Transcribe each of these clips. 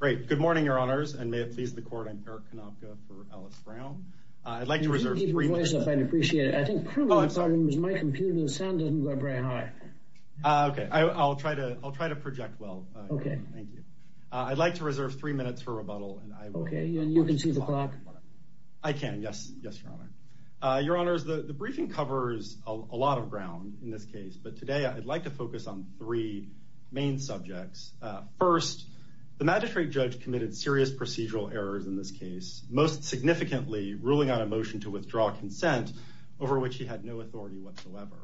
Good morning, Your Honors, and may it please the Court, I'm Eric Konopka for Alice Brown. I'd like to reserve three minutes for rebuttal. If you could keep your voice up, I'd appreciate it. I think probably the problem is my computer's sound doesn't go up very high. Okay, I'll try to project well. Okay. Thank you. I'd like to reserve three minutes for rebuttal. Okay, and you can see the clock? I can, yes. Yes, Your Honor. Your Honors, the briefing covers a lot of ground in this case, but today I'd like to focus on three main subjects. First, the Magistrate Judge committed serious procedural errors in this case, most significantly ruling on a motion to withdraw consent over which he had no authority whatsoever.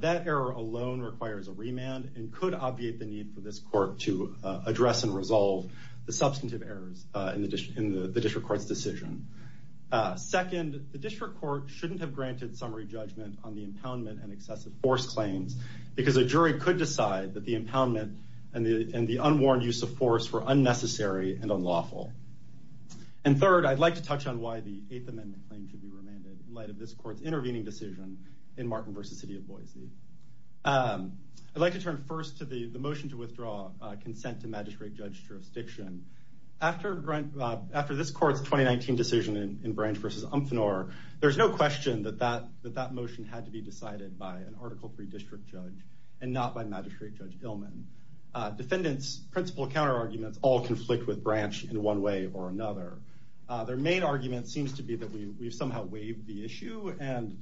That error alone requires a remand and could obviate the need for this Court to address and resolve the substantive errors in the District Court's decision. Second, the District Court shouldn't have granted summary judgment on the impoundment and excessive force claims because a jury could decide that the impoundment and the unworn use of force were unnecessary and unlawful. And third, I'd like to touch on why the Eighth Amendment claim should be remanded in light of this Court's intervening decision in Martin v. City of Boise. I'd like to turn first to the motion to withdraw consent to Magistrate Judge jurisdiction. After this Court's 2019 decision in Branch v. Umphenor, there's no question that that motion had to be decided by an Article III District Judge and not by Magistrate Judge Illman. Defendants' principal counterarguments all conflict with Branch in one way or another. Their main argument seems to be that we've somehow waived the issue, and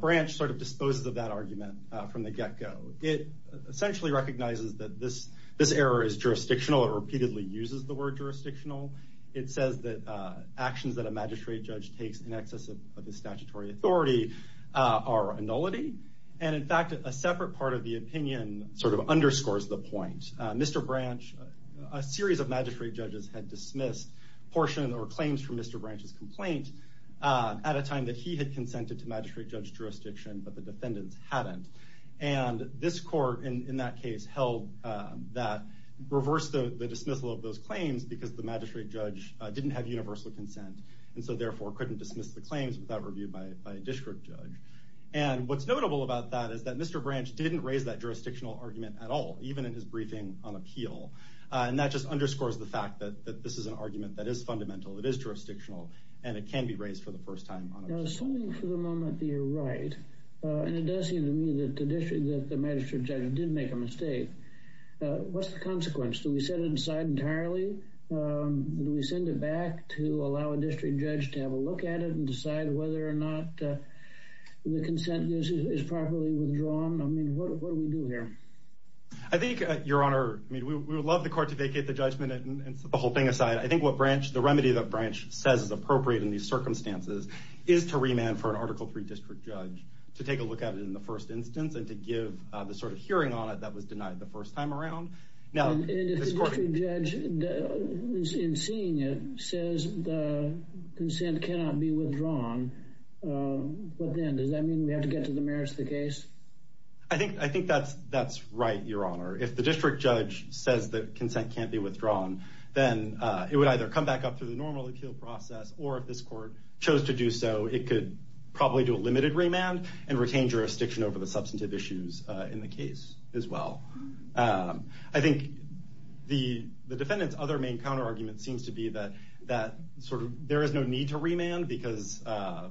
Branch sort of disposes of that argument from the get-go. It essentially recognizes that this error is jurisdictional. It repeatedly uses the word jurisdictional. It says that actions that a Magistrate Judge takes in excess of his statutory authority are a nullity. And in fact, a separate part of the opinion sort of underscores the point. Mr. Branch, a series of Magistrate Judges had dismissed portions or claims from Mr. Branch's complaint at a time that he had consented to Magistrate Judge jurisdiction, but the defendants hadn't. And this Court, in that case, reversed the dismissal of those claims because the Magistrate Judge didn't have universal consent, and so therefore couldn't dismiss the claims without review by a District Judge. And what's notable about that is that Mr. Branch didn't raise that jurisdictional argument at all, even in his briefing on appeal. And that just underscores the fact that this is an argument that is fundamental, it is jurisdictional, and it can be raised for the first time on appeal. Assuming for the moment that you're right, and it does seem to me that the Magistrate Judge did make a mistake, what's the consequence? Do we set it aside entirely? Do we send it back to allow a District Judge to have a look at it and decide whether or not the consent is properly withdrawn? I mean, what do we do here? I think, Your Honor, we would love the Court to vacate the judgment and set the whole thing aside. I think the remedy that Branch says is appropriate in these circumstances is to remand for an Article III District Judge to take a look at it in the first instance and to give the sort of hearing on it that was denied the first time around. And if the District Judge, in seeing it, says the consent cannot be withdrawn, does that mean we have to get to the merits of the case? I think that's right, Your Honor. If the District Judge says that consent can't be withdrawn, then it would either come back up through the normal appeal process, or if this Court chose to do so, it could probably do a limited remand and retain jurisdiction over the substantive issues in the case as well. I think the defendant's other main counterargument seems to be that there is no need to remand because a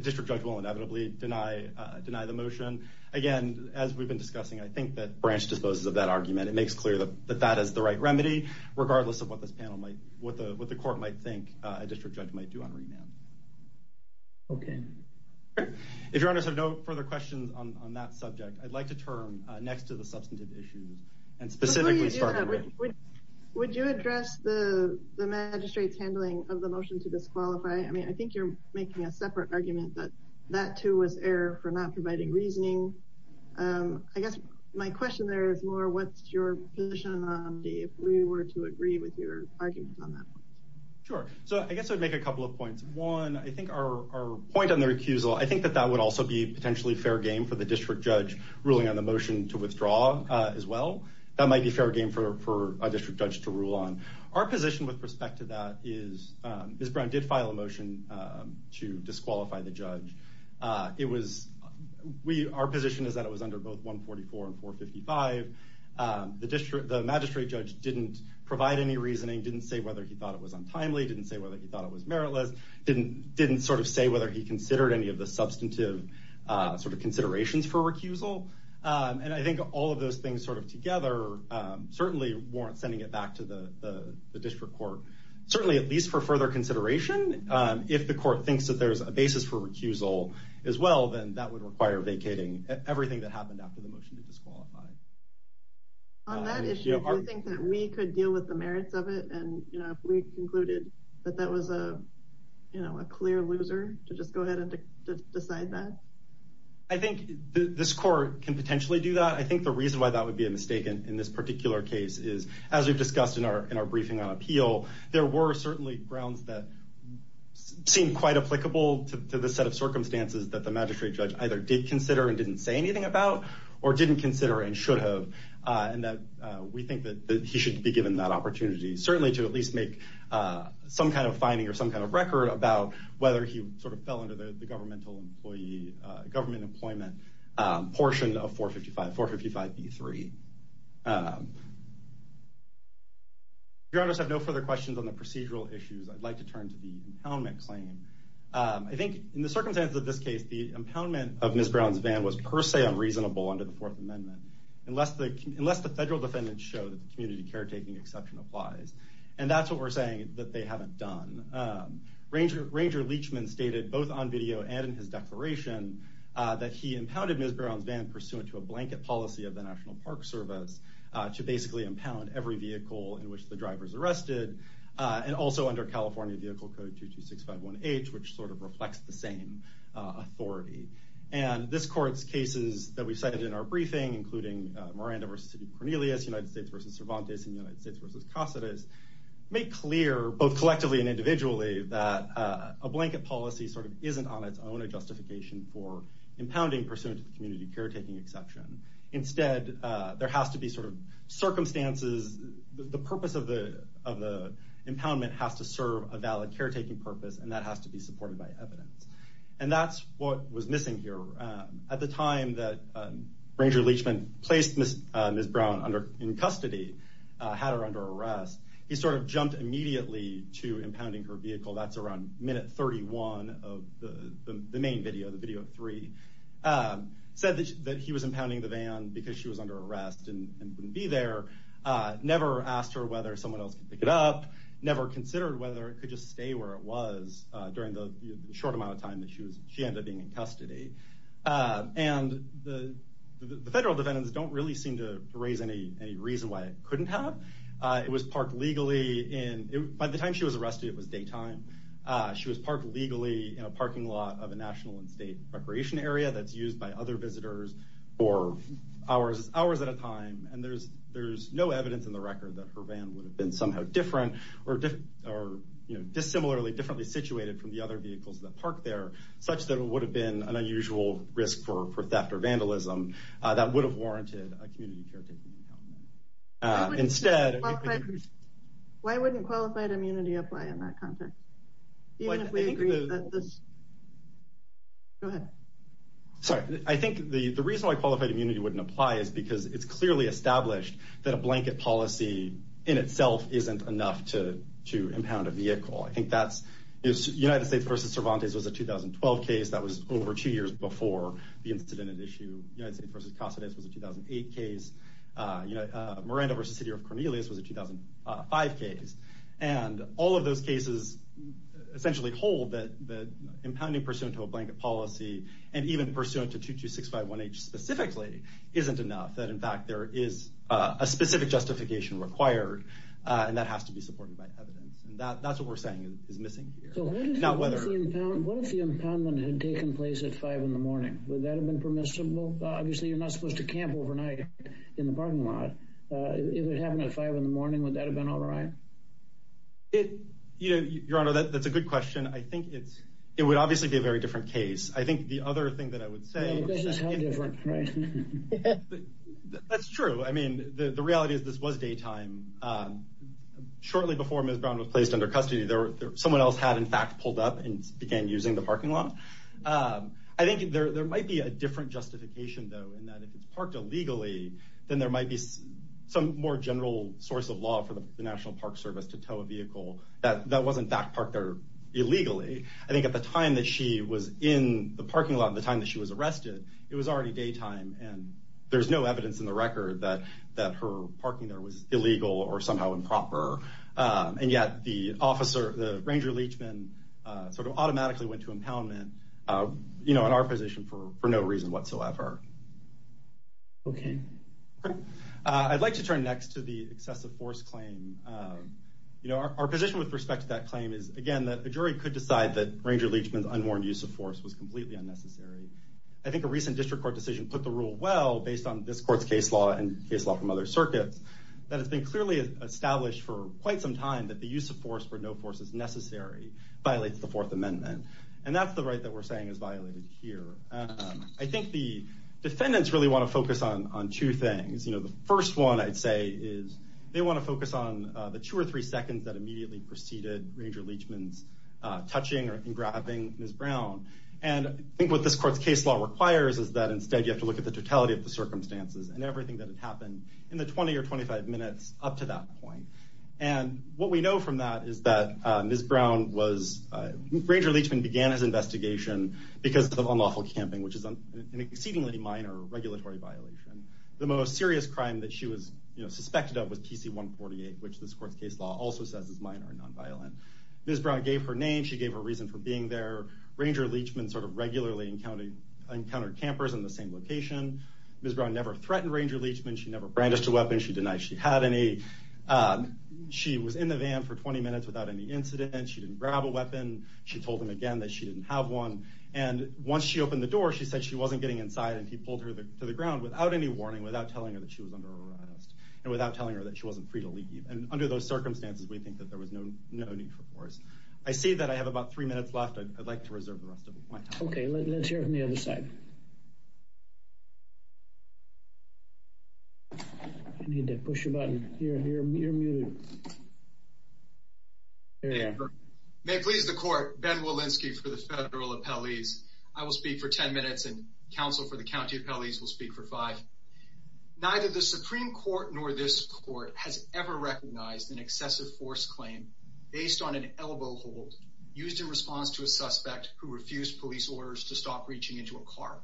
District Judge will inevitably deny the motion. Again, as we've been discussing, I think that Branch disposes of that argument. It makes clear that that is the right remedy, regardless of what the Court might think a District Judge might do on remand. Okay. If Your Honors have no further questions on that subject, I'd like to turn next to the substantive issues and specifically start with… Before you do that, would you address the Magistrate's handling of the motion to disqualify? I think you're making a separate argument that that, too, was error for not providing reasoning. I guess my question there is more, what's your position on if we were to agree with your argument on that? Sure. I guess I'd make a couple of points. One, I think our point on the recusal, I think that that would also be potentially fair game for the District Judge ruling on the motion to withdraw as well. That might be fair game for a District Judge to rule on. Our position with respect to that is, Ms. Brown did file a motion to disqualify the judge. Our position is that it was under both 144 and 455. The Magistrate Judge didn't provide any reasoning, didn't say whether he thought it was untimely, didn't say whether he thought it was meritless, didn't say whether he considered any of the substantive considerations for recusal. I think all of those things together certainly warrant sending it back to the District Court, certainly at least for further consideration. If the court thinks that there's a basis for recusal as well, then that would require vacating everything that happened after the motion to disqualify. On that issue, do you think that we could deal with the merits of it? If we concluded that that was a clear loser, to just go ahead and decide that? I think this court can potentially do that. I think the reason why that would be a mistake in this particular case is, as we've discussed in our briefing on appeal, there were certainly grounds that seemed quite applicable to the set of circumstances that the Magistrate Judge either did consider and didn't say anything about, or didn't consider and should have, and that we think that he should be given that opportunity, certainly to at least make some kind of finding or some kind of record about whether he fell under the government employment portion of 455B3. If you have no further questions on the procedural issues, I'd like to turn to the impoundment claim. I think in the circumstances of this case, the impoundment of Ms. Brown's van was per se unreasonable under the Fourth Amendment, unless the federal defendants show that the community caretaking exception applies. And that's what we're saying, that they haven't done. Ranger Leachman stated both on video and in his declaration that he impounded Ms. Brown's van pursuant to a blanket policy of the National Park Service to basically impound every vehicle in which the driver is arrested, and also under California Vehicle Code 22651H, which sort of reflects the same authority. And this court's cases that we cited in our briefing, including Miranda v. Cornelius, United States v. Cervantes, and United States v. Caceres, make clear, both collectively and individually, that a blanket policy sort of isn't on its own a justification for impounding pursuant to the community caretaking exception. Instead, there has to be sort of circumstances, the purpose of the impoundment has to serve a valid caretaking purpose, and that has to be supported by evidence. And that's what was missing here. At the time that Ranger Leachman placed Ms. Brown in custody, had her under arrest, he sort of jumped immediately to impounding her vehicle. That's around minute 31 of the main video, the video three, said that he was impounding the van because she was under arrest and wouldn't be there, never asked her whether someone else could pick it up, never considered whether it could just stay where it was during the short amount of time that she ended up being in custody. And the federal defendants don't really seem to raise any reason why it couldn't have. It was parked legally in, by the time she was arrested, it was daytime. She was parked legally in a parking lot of a national and state recreation area that's used by other visitors for hours at a time. And there's no evidence in the record that her van would have been somehow different, or dissimilarly, differently situated from the other vehicles that park there, such that it would have been an unusual risk for theft or vandalism that would have warranted a community caretaking impoundment. Instead... Why wouldn't qualified immunity apply in that context? Even if we agree that this... Go ahead. Sorry, I think the reason why qualified immunity wouldn't apply is because it's clearly established that a blanket policy in itself isn't enough to impound a vehicle. I think that's... United States v. Cervantes was a 2012 case, that was over two years before the incident at issue. United States v. Casades was a 2008 case. Miranda v. City of Cornelius was a 2005 case. And all of those cases essentially hold that impounding pursuant to a blanket policy, and even pursuant to 22651H specifically, isn't enough. That, in fact, there is a specific justification required, and that has to be supported by evidence. And that's what we're saying is missing here. So what if the impoundment had taken place at 5 in the morning? Would that have been permissible? Obviously, you're not supposed to camp overnight in the parking lot. If it happened at 5 in the morning, would that have been all right? Your Honor, that's a good question. I think it would obviously be a very different case. I think the other thing that I would say... It does sound different, right? That's true. I mean, the reality is this was daytime. Shortly before Ms. Brown was placed under custody, someone else had, in fact, pulled up and began using the parking lot. I think there might be a different justification, though, in that if it's parked illegally, then there might be some more general source of law for the National Park Service to tow a vehicle that wasn't, in fact, parked there illegally. I think at the time that she was in the parking lot, at the time that she was arrested, it was already daytime, and there's no evidence in the record that her parking there was illegal or somehow improper. And yet the officer, the ranger-leechman, sort of automatically went to impoundment in our position for no reason whatsoever. Okay. I'd like to turn next to the excessive force claim. Our position with respect to that claim is, again, that a jury could decide that ranger-leechman's unwarned use of force was completely unnecessary. I think a recent district court decision put the rule well, based on this court's case law and case law from other circuits, that it's been clearly established for quite some time that the use of force for no force is necessary violates the Fourth Amendment. And that's the right that we're saying is violated here. I think the defendants really want to focus on two things. The first one, I'd say, is they want to focus on the two or three seconds that immediately preceded ranger-leechman's touching or grabbing Ms. Brown. And I think what this court's case law requires is that, instead, you have to look at the totality of the circumstances and everything that had happened in the 20 or 25 minutes up to that point. And what we know from that is that Ms. Brown was—ranger-leechman began his investigation because of unlawful camping, which is an exceedingly minor regulatory violation. The most serious crime that she was suspected of was PC-148, which this court's case law also says is minor and nonviolent. Ms. Brown gave her name. She gave her reason for being there. Ranger-leechman sort of regularly encountered campers in the same location. Ms. Brown never threatened ranger-leechman. She never brandished a weapon. She denied she had any. She was in the van for 20 minutes without any incident. She didn't grab a weapon. She told him again that she didn't have one. And once she opened the door, she said she wasn't getting inside, and he pulled her to the ground without any warning, without telling her that she was under arrest and without telling her that she wasn't free to leave. And under those circumstances, we think that there was no need for force. I see that I have about three minutes left. I'd like to reserve the rest of my time. Okay, let's hear it from the other side. You need to push a button. You're muted. May it please the court, Ben Wolinsky for the federal appellees. I will speak for 10 minutes, and counsel for the county appellees will speak for five. Neither the Supreme Court nor this court has ever recognized an excessive force claim based on an elbow hold used in response to a suspect who refused police orders to stop reaching into a car.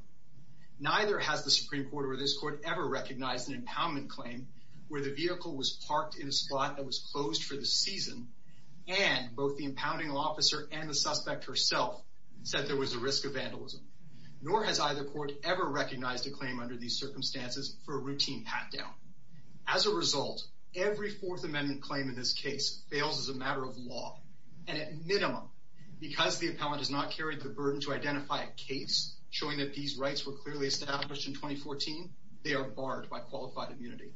Neither has the Supreme Court or this court ever recognized an impoundment claim where the vehicle was parked in a spot that was closed for the season, and both the impounding officer and the suspect herself said there was a risk of vandalism. Nor has either court ever recognized a claim under these circumstances for a routine pat-down. As a result, every Fourth Amendment claim in this case fails as a matter of law, and at minimum, because the appellant has not carried the burden to identify a case showing that these rights were clearly established in 2014, they are barred by qualified immunity.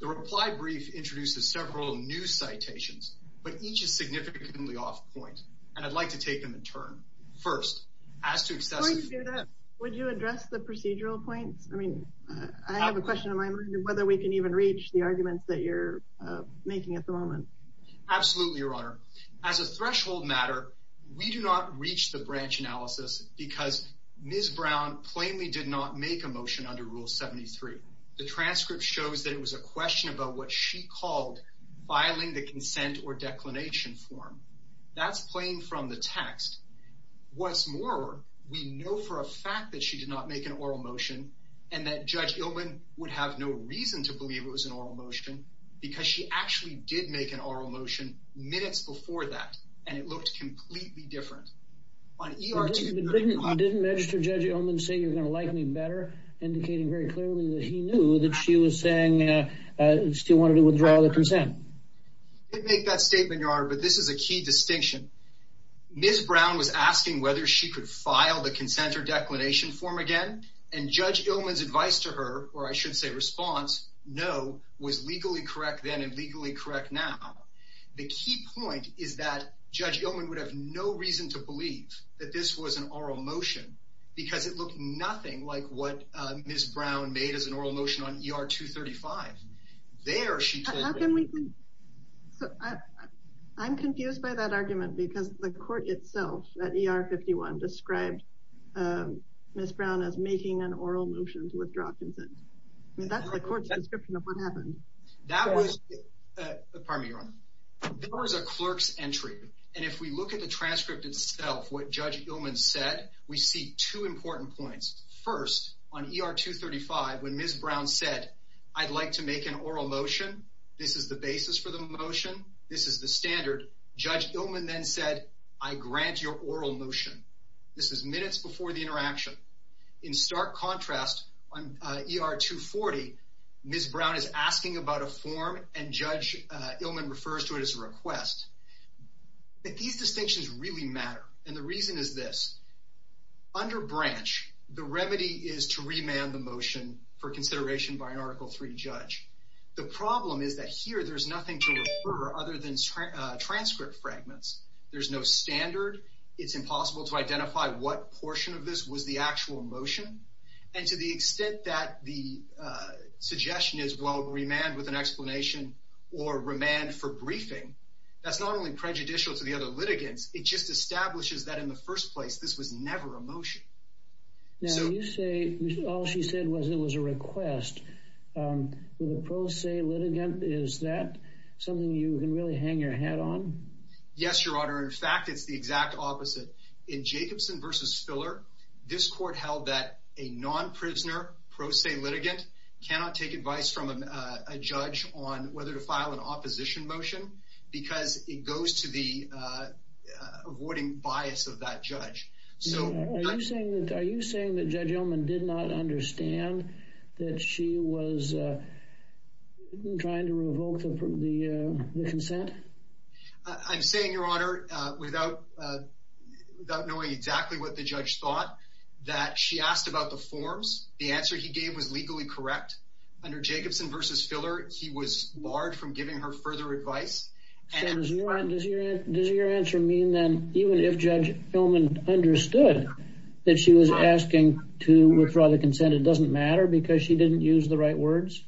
The reply brief introduces several new citations, but each is significantly off point, and I'd like to take them in turn. First, as to excessive force... Before you do that, would you address the procedural points? I mean, I have a question in my mind of whether we can even reach the arguments that you're making at the moment. Absolutely, Your Honor. As a threshold matter, we do not reach the branch analysis because Ms. Brown plainly did not make a motion under Rule 73. The transcript shows that it was a question about what she called filing the consent or declination form. That's plain from the text. What's more, we know for a fact that she did not make an oral motion, and that Judge Illman would have no reason to believe it was an oral motion because she actually did make an oral motion minutes before that, and it looked completely different. Didn't Magistrate Judge Illman say you're going to like me better, indicating very clearly that he knew that she was saying she still wanted to withdraw the consent? I didn't make that statement, Your Honor, but this is a key distinction. Ms. Brown was asking whether she could file the consent or declination form again, and Judge Illman's advice to her, or I should say response, no, was legally correct then and legally correct now. The key point is that Judge Illman would have no reason to believe that this was an oral motion because it looked nothing like what Ms. Brown made as an oral motion on ER 235. How can we—I'm confused by that argument because the court itself at ER 51 described Ms. Brown as making an oral motion to withdraw consent. That's the court's description of what happened. That was—pardon me, Your Honor. That was a clerk's entry, and if we look at the transcript itself, what Judge Illman said, we see two important points. First, on ER 235, when Ms. Brown said, I'd like to make an oral motion, this is the basis for the motion, this is the standard, Judge Illman then said, I grant your oral motion. This is minutes before the interaction. In stark contrast, on ER 240, Ms. Brown is asking about a form, and Judge Illman refers to it as a request. But these distinctions really matter, and the reason is this. Under branch, the remedy is to remand the motion for consideration by an Article III judge. The problem is that here there's nothing to refer other than transcript fragments. There's no standard. It's impossible to identify what portion of this was the actual motion, and to the extent that the suggestion is, well, remand with an explanation or remand for briefing, that's not only prejudicial to the other litigants, it just establishes that in the first place this was never a motion. Now, you say all she said was it was a request. With a pro se litigant, is that something you can really hang your hat on? Yes, Your Honor. In fact, it's the exact opposite. In Jacobson v. Spiller, this court held that a non-prisoner pro se litigant cannot take advice from a judge on whether to file an opposition motion because it goes to the avoiding bias of that judge. Are you saying that Judge Ullman did not understand that she was trying to revoke the consent? I'm saying, Your Honor, without knowing exactly what the judge thought, that she asked about the forms. The answer he gave was legally correct. Under Jacobson v. Spiller, he was barred from giving her further advice. Does your answer mean then even if Judge Ullman understood that she was asking to withdraw the consent, it doesn't matter because she didn't use the right words?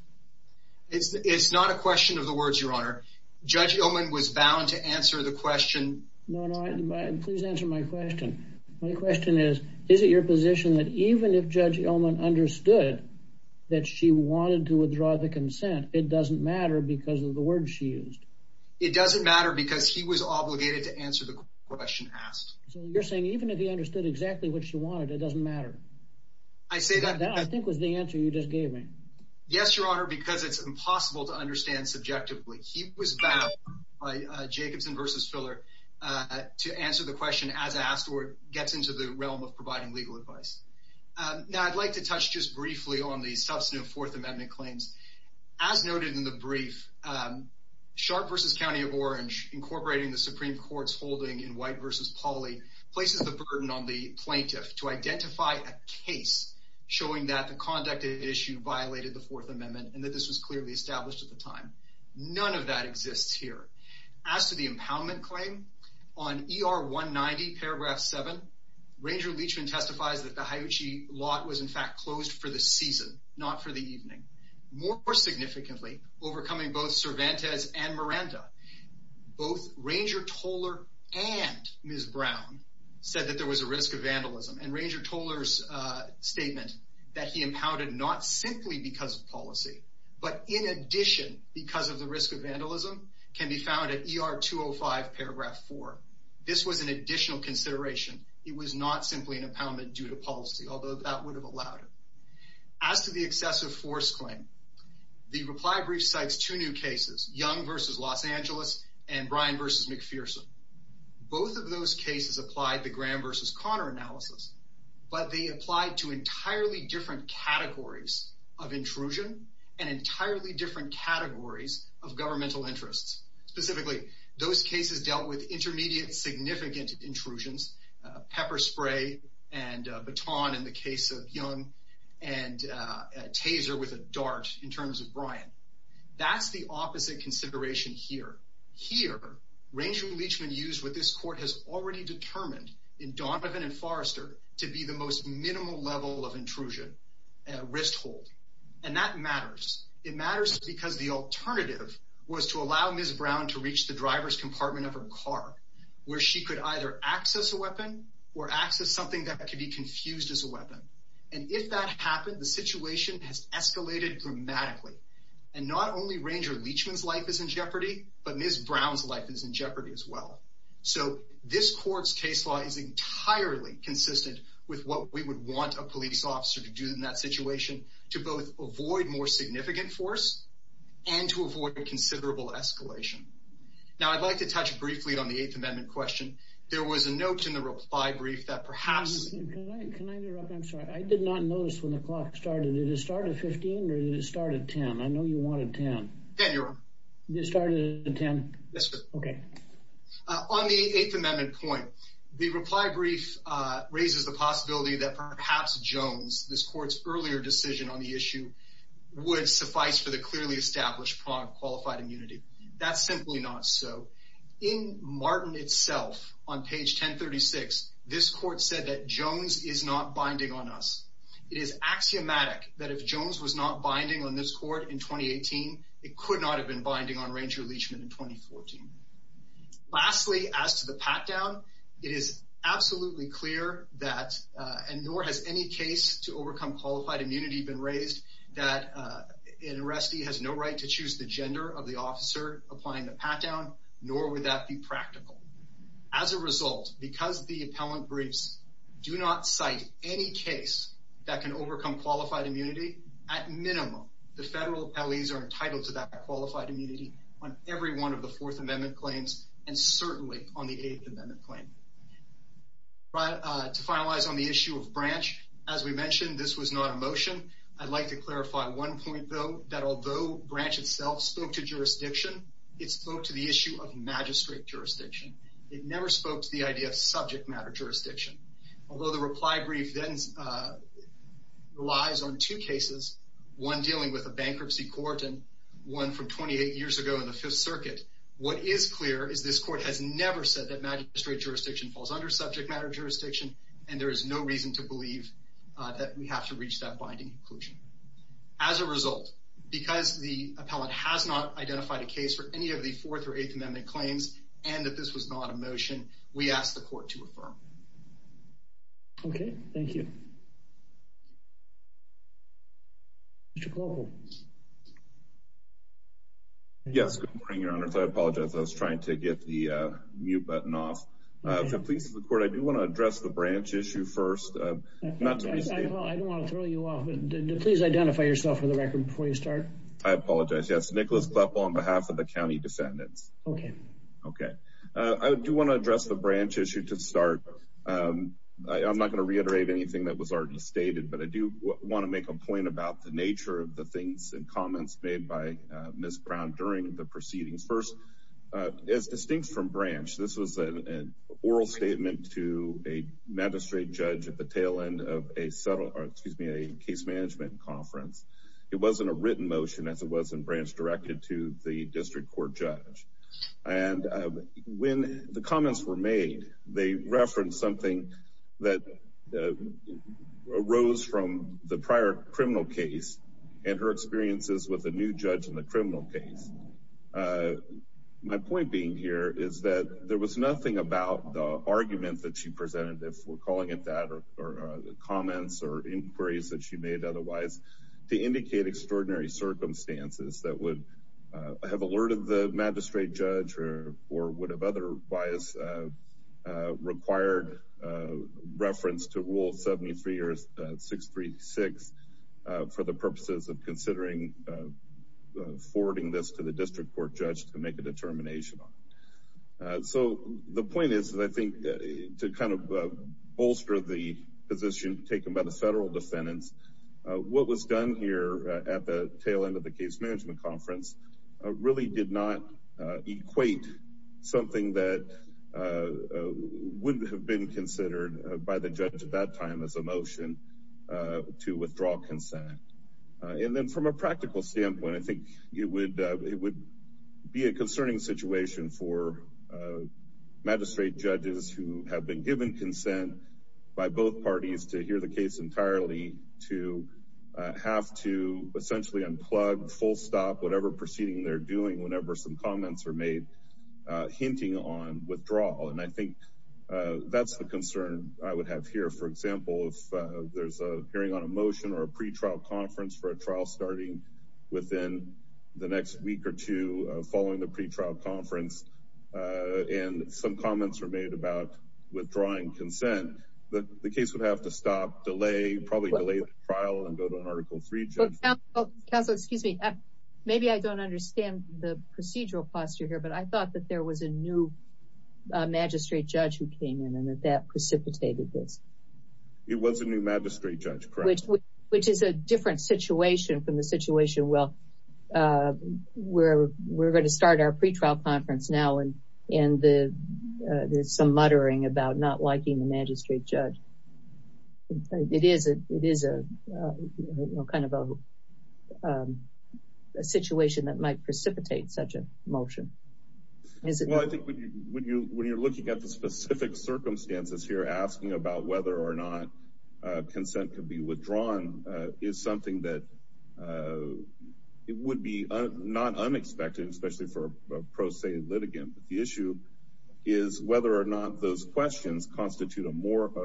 It's not a question of the words, Your Honor. Judge Ullman was bound to answer the question. No, no, please answer my question. My question is, is it your position that even if Judge Ullman understood that she wanted to withdraw the consent, it doesn't matter because of the words she used? It doesn't matter because he was obligated to answer the question asked. So you're saying even if he understood exactly what she wanted, it doesn't matter? That, I think, was the answer you just gave me. Yes, Your Honor, because it's impossible to understand subjectively. He was bound by Jacobson v. Spiller to answer the question as asked or gets into the realm of providing legal advice. Now, I'd like to touch just briefly on the substantive Fourth Amendment claims. As noted in the brief, Sharp v. County of Orange, incorporating the Supreme Court's holding in White v. Pauley, places the burden on the plaintiff to identify a case showing that the conducted issue violated the Fourth Amendment and that this was clearly established at the time. None of that exists here. As to the impoundment claim, on ER 190, paragraph 7, Ranger Leachman testifies that the Hiuchi lot was, in fact, closed for the season, not for the evening. More significantly, overcoming both Cervantes and Miranda, both Ranger Toller and Ms. Brown said that there was a risk of vandalism. And Ranger Toller's statement that he impounded not simply because of policy, but in addition because of the risk of vandalism, can be found at ER 205, paragraph 4. This was an additional consideration. It was not simply an impoundment due to policy, although that would have allowed it. As to the excessive force claim, the reply brief cites two new cases, Young v. Los Angeles and Bryan v. McPherson. Both of those cases applied the Graham v. Conner analysis, but they applied to entirely different categories of intrusion and entirely different categories of governmental interests. Specifically, those cases dealt with intermediate significant intrusions, pepper spray and baton in the case of Young, and taser with a dart in terms of Bryan. That's the opposite consideration here. Here, Ranger Leachman used what this court has already determined in Donovan and Forrester to be the most minimal level of intrusion, wrist hold. And that matters. It matters because the alternative was to allow Ms. Brown to reach the driver's compartment of her car, where she could either access a weapon or access something that could be confused as a weapon. And if that happened, the situation has escalated dramatically. And not only Ranger Leachman's life is in jeopardy, but Ms. Brown's life is in jeopardy as well. So this court's case law is entirely consistent with what we would want a police officer to do in that situation to both avoid more significant force and to avoid a considerable escalation. Now, I'd like to touch briefly on the Eighth Amendment question. There was a note in the reply brief that perhaps— I know you wanted 10. 10, Your Honor. You started at 10? Yes, sir. Okay. On the Eighth Amendment point, the reply brief raises the possibility that perhaps Jones, this court's earlier decision on the issue, would suffice for the clearly established qualified immunity. That's simply not so. In Martin itself, on page 1036, this court said that Jones is not binding on us. It is axiomatic that if Jones was not binding on this court in 2018, it could not have been binding on Ranger Leachman in 2014. Lastly, as to the pat-down, it is absolutely clear that, and nor has any case to overcome qualified immunity been raised, that an arrestee has no right to choose the gender of the officer applying the pat-down, nor would that be practical. As a result, because the appellant briefs do not cite any case that can overcome qualified immunity, at minimum, the federal appellees are entitled to that qualified immunity on every one of the Fourth Amendment claims and certainly on the Eighth Amendment claim. To finalize on the issue of branch, as we mentioned, this was not a motion. I'd like to clarify one point, though, that although branch itself spoke to jurisdiction, it spoke to the issue of magistrate jurisdiction. It never spoke to the idea of subject matter jurisdiction. Although the reply brief then relies on two cases, one dealing with a bankruptcy court and one from 28 years ago in the Fifth Circuit, what is clear is this court has never said that magistrate jurisdiction falls under subject matter jurisdiction, and there is no reason to believe that we have to reach that binding conclusion. As a result, because the appellant has not identified a case for any of the Fourth or Eighth Amendment claims and that this was not a motion, we ask the court to affirm. Okay, thank you. Mr. Klobuchar. Yes, good morning, Your Honor. I apologize, I was trying to get the mute button off. If it pleases the court, I do want to address the branch issue first. I don't want to throw you off. Please identify yourself for the record before you start. I apologize, yes. Nicholas Kleppel on behalf of the county descendants. Okay. Okay. I do want to address the branch issue to start. I'm not going to reiterate anything that was already stated, but I do want to make a point about the nature of the things and comments made by Ms. Brown during the proceedings. First, as distinct from branch, this was an oral statement to a magistrate judge at the tail end of a case management conference. It wasn't a written motion as it was in branch directed to the district court judge. And when the comments were made, they referenced something that arose from the prior criminal case and her experiences with the new judge in the criminal case. My point being here is that there was nothing about the argument that she presented, if we're calling it that, or the comments or inquiries that she made otherwise, to indicate extraordinary circumstances that would have alerted the magistrate judge or would have otherwise required reference to rule 73 or 636 for the purposes of considering forwarding this to the district court judge to make a determination on. So the point is that I think to kind of bolster the position taken by the federal defendants, what was done here at the tail end of the case management conference really did not equate something that would have been considered by the judge at that time as a motion to withdraw consent. And then from a practical standpoint, I think it would be a concerning situation for magistrate judges who have been given consent by both parties to hear the case entirely, to have to essentially unplug, full stop, whatever proceeding they're doing whenever some comments are made hinting on withdrawal. And I think that's the concern I would have here. For example, if there's a hearing on a motion or a pretrial conference for a trial starting within the next week or two following the pretrial conference and some comments were made about withdrawing consent, the case would have to stop, delay, probably delay the trial and go to an article three judge. Counsel, excuse me. Maybe I don't understand the procedural posture here, but I thought that there was a new magistrate judge who came in and that precipitated this. It was a new magistrate judge, correct. Which is a different situation from the situation where we're going to start our pretrial conference now and there's some muttering about not liking the magistrate judge. It is a kind of a situation that might precipitate such a motion. Well, I think when you're looking at the specific circumstances here, asking about whether or not consent could be withdrawn is something that would be not unexpected, especially for a pro se litigant. The issue is whether or not those questions constitute a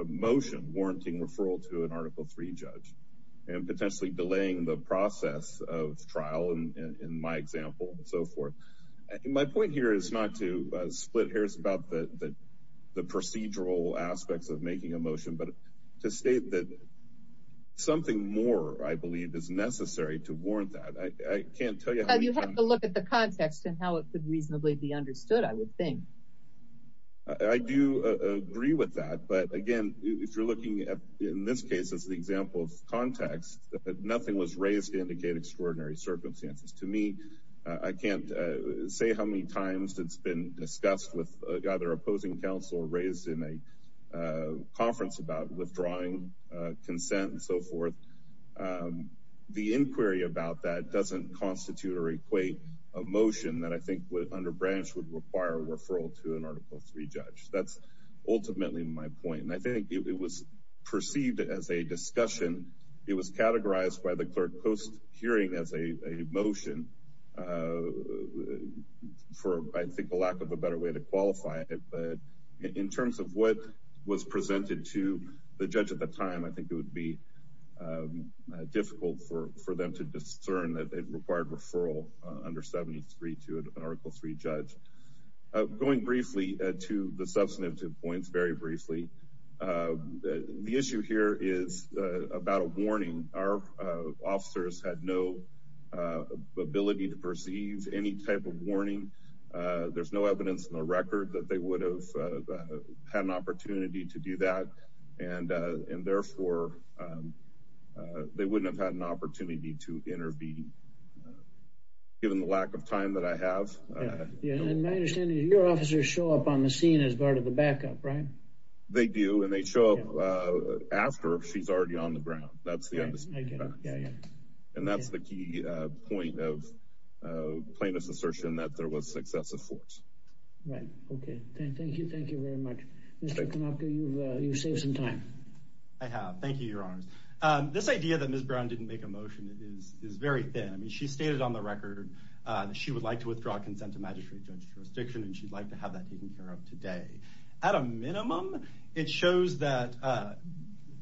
motion warranting referral to an article three judge and potentially delaying the process of trial in my example and so forth. My point here is not to split hairs about the procedural aspects of making a motion, but to state that something more I believe is necessary to warrant that. I can't tell you how you have to look at the context and how it could reasonably be understood. I would think I do agree with that. But again, if you're looking at in this case, as the example of context, nothing was raised to indicate extraordinary circumstances to me. I can't say how many times it's been discussed with either opposing counsel raised in a conference about withdrawing consent and so forth. The inquiry about that doesn't constitute or equate a motion that I think would under branch would require referral to an article three judge. That's ultimately my point. And I think it was perceived as a discussion. It was categorized by the clerk post hearing as a motion for, I think, the lack of a better way to qualify it. But in terms of what was presented to the judge at the time, I think it would be difficult for them to discern that it required referral under 73 to an article three judge. Going briefly to the substantive points, very briefly. The issue here is about a warning. Our officers had no ability to perceive any type of warning. There's no evidence in the record that they would have had an opportunity to do that. And therefore, they wouldn't have had an opportunity to intervene. Given the lack of time that I have. And my understanding is your officers show up on the scene as part of the backup, right? They do, and they show up after she's already on the ground. That's the end. And that's the key point of plaintiff's assertion that there was successive force. Right. Okay. Thank you. Thank you very much. You save some time. I have. Thank you, Your Honor. This idea that Ms. Brown didn't make a motion is very thin. I mean, she stated on the record that she would like to withdraw consent to magistrate judge jurisdiction, and she'd like to have that taken care of today. At a minimum, it shows that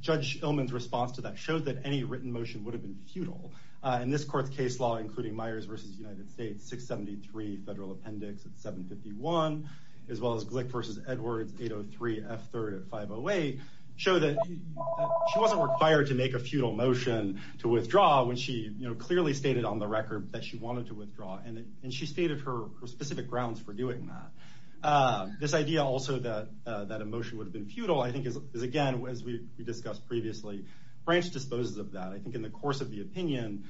Judge Illman's response to that showed that any written motion would have been futile. And this court's case law, including Myers versus United States 673 Federal Appendix at 751, as well as Glick versus Edwards 803 F3 at 508, show that she wasn't required to make a futile motion to withdraw when she clearly stated on the record that she wanted to withdraw. And she stated her specific grounds for doing that. This idea also that that emotion would have been futile, I think, is again, as we discussed previously, branch disposes of that. I think in the course of the opinion,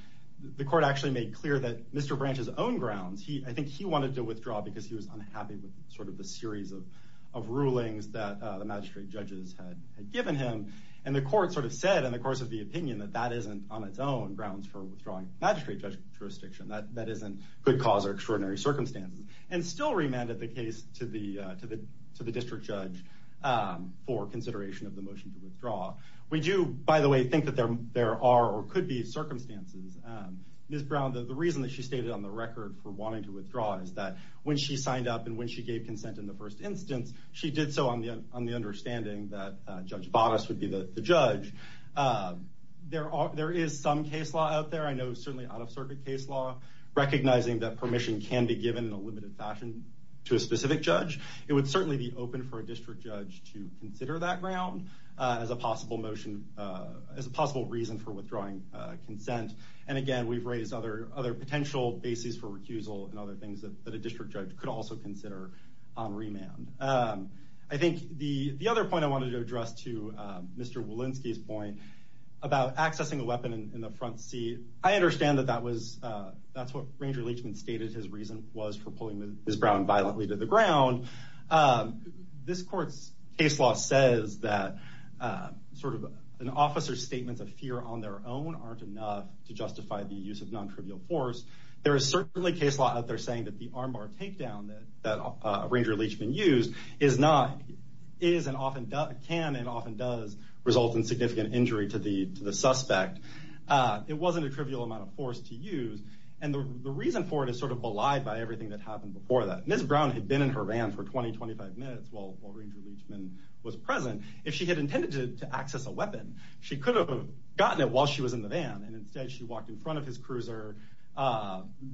the court actually made clear that Mr. Branch's own grounds, I think he wanted to withdraw because he was unhappy with sort of the series of rulings that the magistrate judges had given him. And the court sort of said in the course of the opinion that that isn't on its own grounds for withdrawing magistrate jurisdiction. That isn't good cause or extraordinary circumstances. And still remanded the case to the district judge for consideration of the motion to withdraw. We do, by the way, think that there are or could be circumstances. Ms. Brown, the reason that she stated on the record for wanting to withdraw is that when she signed up and when she gave consent in the first instance, she did so on the on the understanding that Judge Bonas would be the judge. There are there is some case law out there. I know certainly out of circuit case law, recognizing that permission can be given in a limited fashion to a specific judge. It would certainly be open for a district judge to consider that ground as a possible motion as a possible reason for withdrawing consent. And again, we've raised other other potential bases for recusal and other things that a district judge could also consider on remand. I think the the other point I wanted to address to Mr. Walensky's point about accessing a weapon in the front seat. I understand that that was that's what Ranger Leachman stated his reason was for pulling Ms. Brown violently to the ground. This court's case law says that sort of an officer's statements of fear on their own aren't enough to justify the use of non-trivial force. There is certainly case law out there saying that the armbar takedown that Ranger Leachman used is not is and often can and often does result in significant injury to the suspect. It wasn't a trivial amount of force to use. And the reason for it is sort of belied by everything that happened before that. Ms. Brown had been in her van for 20, 25 minutes while Ranger Leachman was present. If she had intended to access a weapon, she could have gotten it while she was in the van. And instead, she walked in front of his cruiser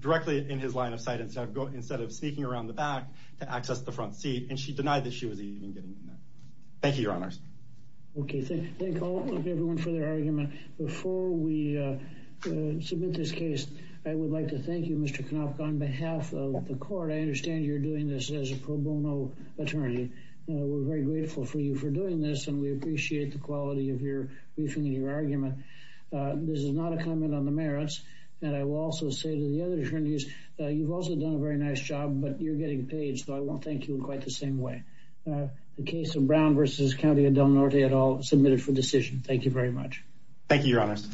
directly in his line of sight instead of instead of sneaking around the back to access the front seat. And she denied that she was even getting in there. Thank you, Your Honors. OK, thank you, everyone, for their argument. Before we submit this case, I would like to thank you, Mr. Knapp. On behalf of the court, I understand you're doing this as a pro bono attorney. We're very grateful for you for doing this and we appreciate the quality of your briefing and your argument. This is not a comment on the merits. And I will also say to the other attorneys, you've also done a very nice job, but you're getting paid. So I won't thank you in quite the same way. The case of Brown versus County of Del Norte at all submitted for decision. Thank you very much. Thank you, Your Honors.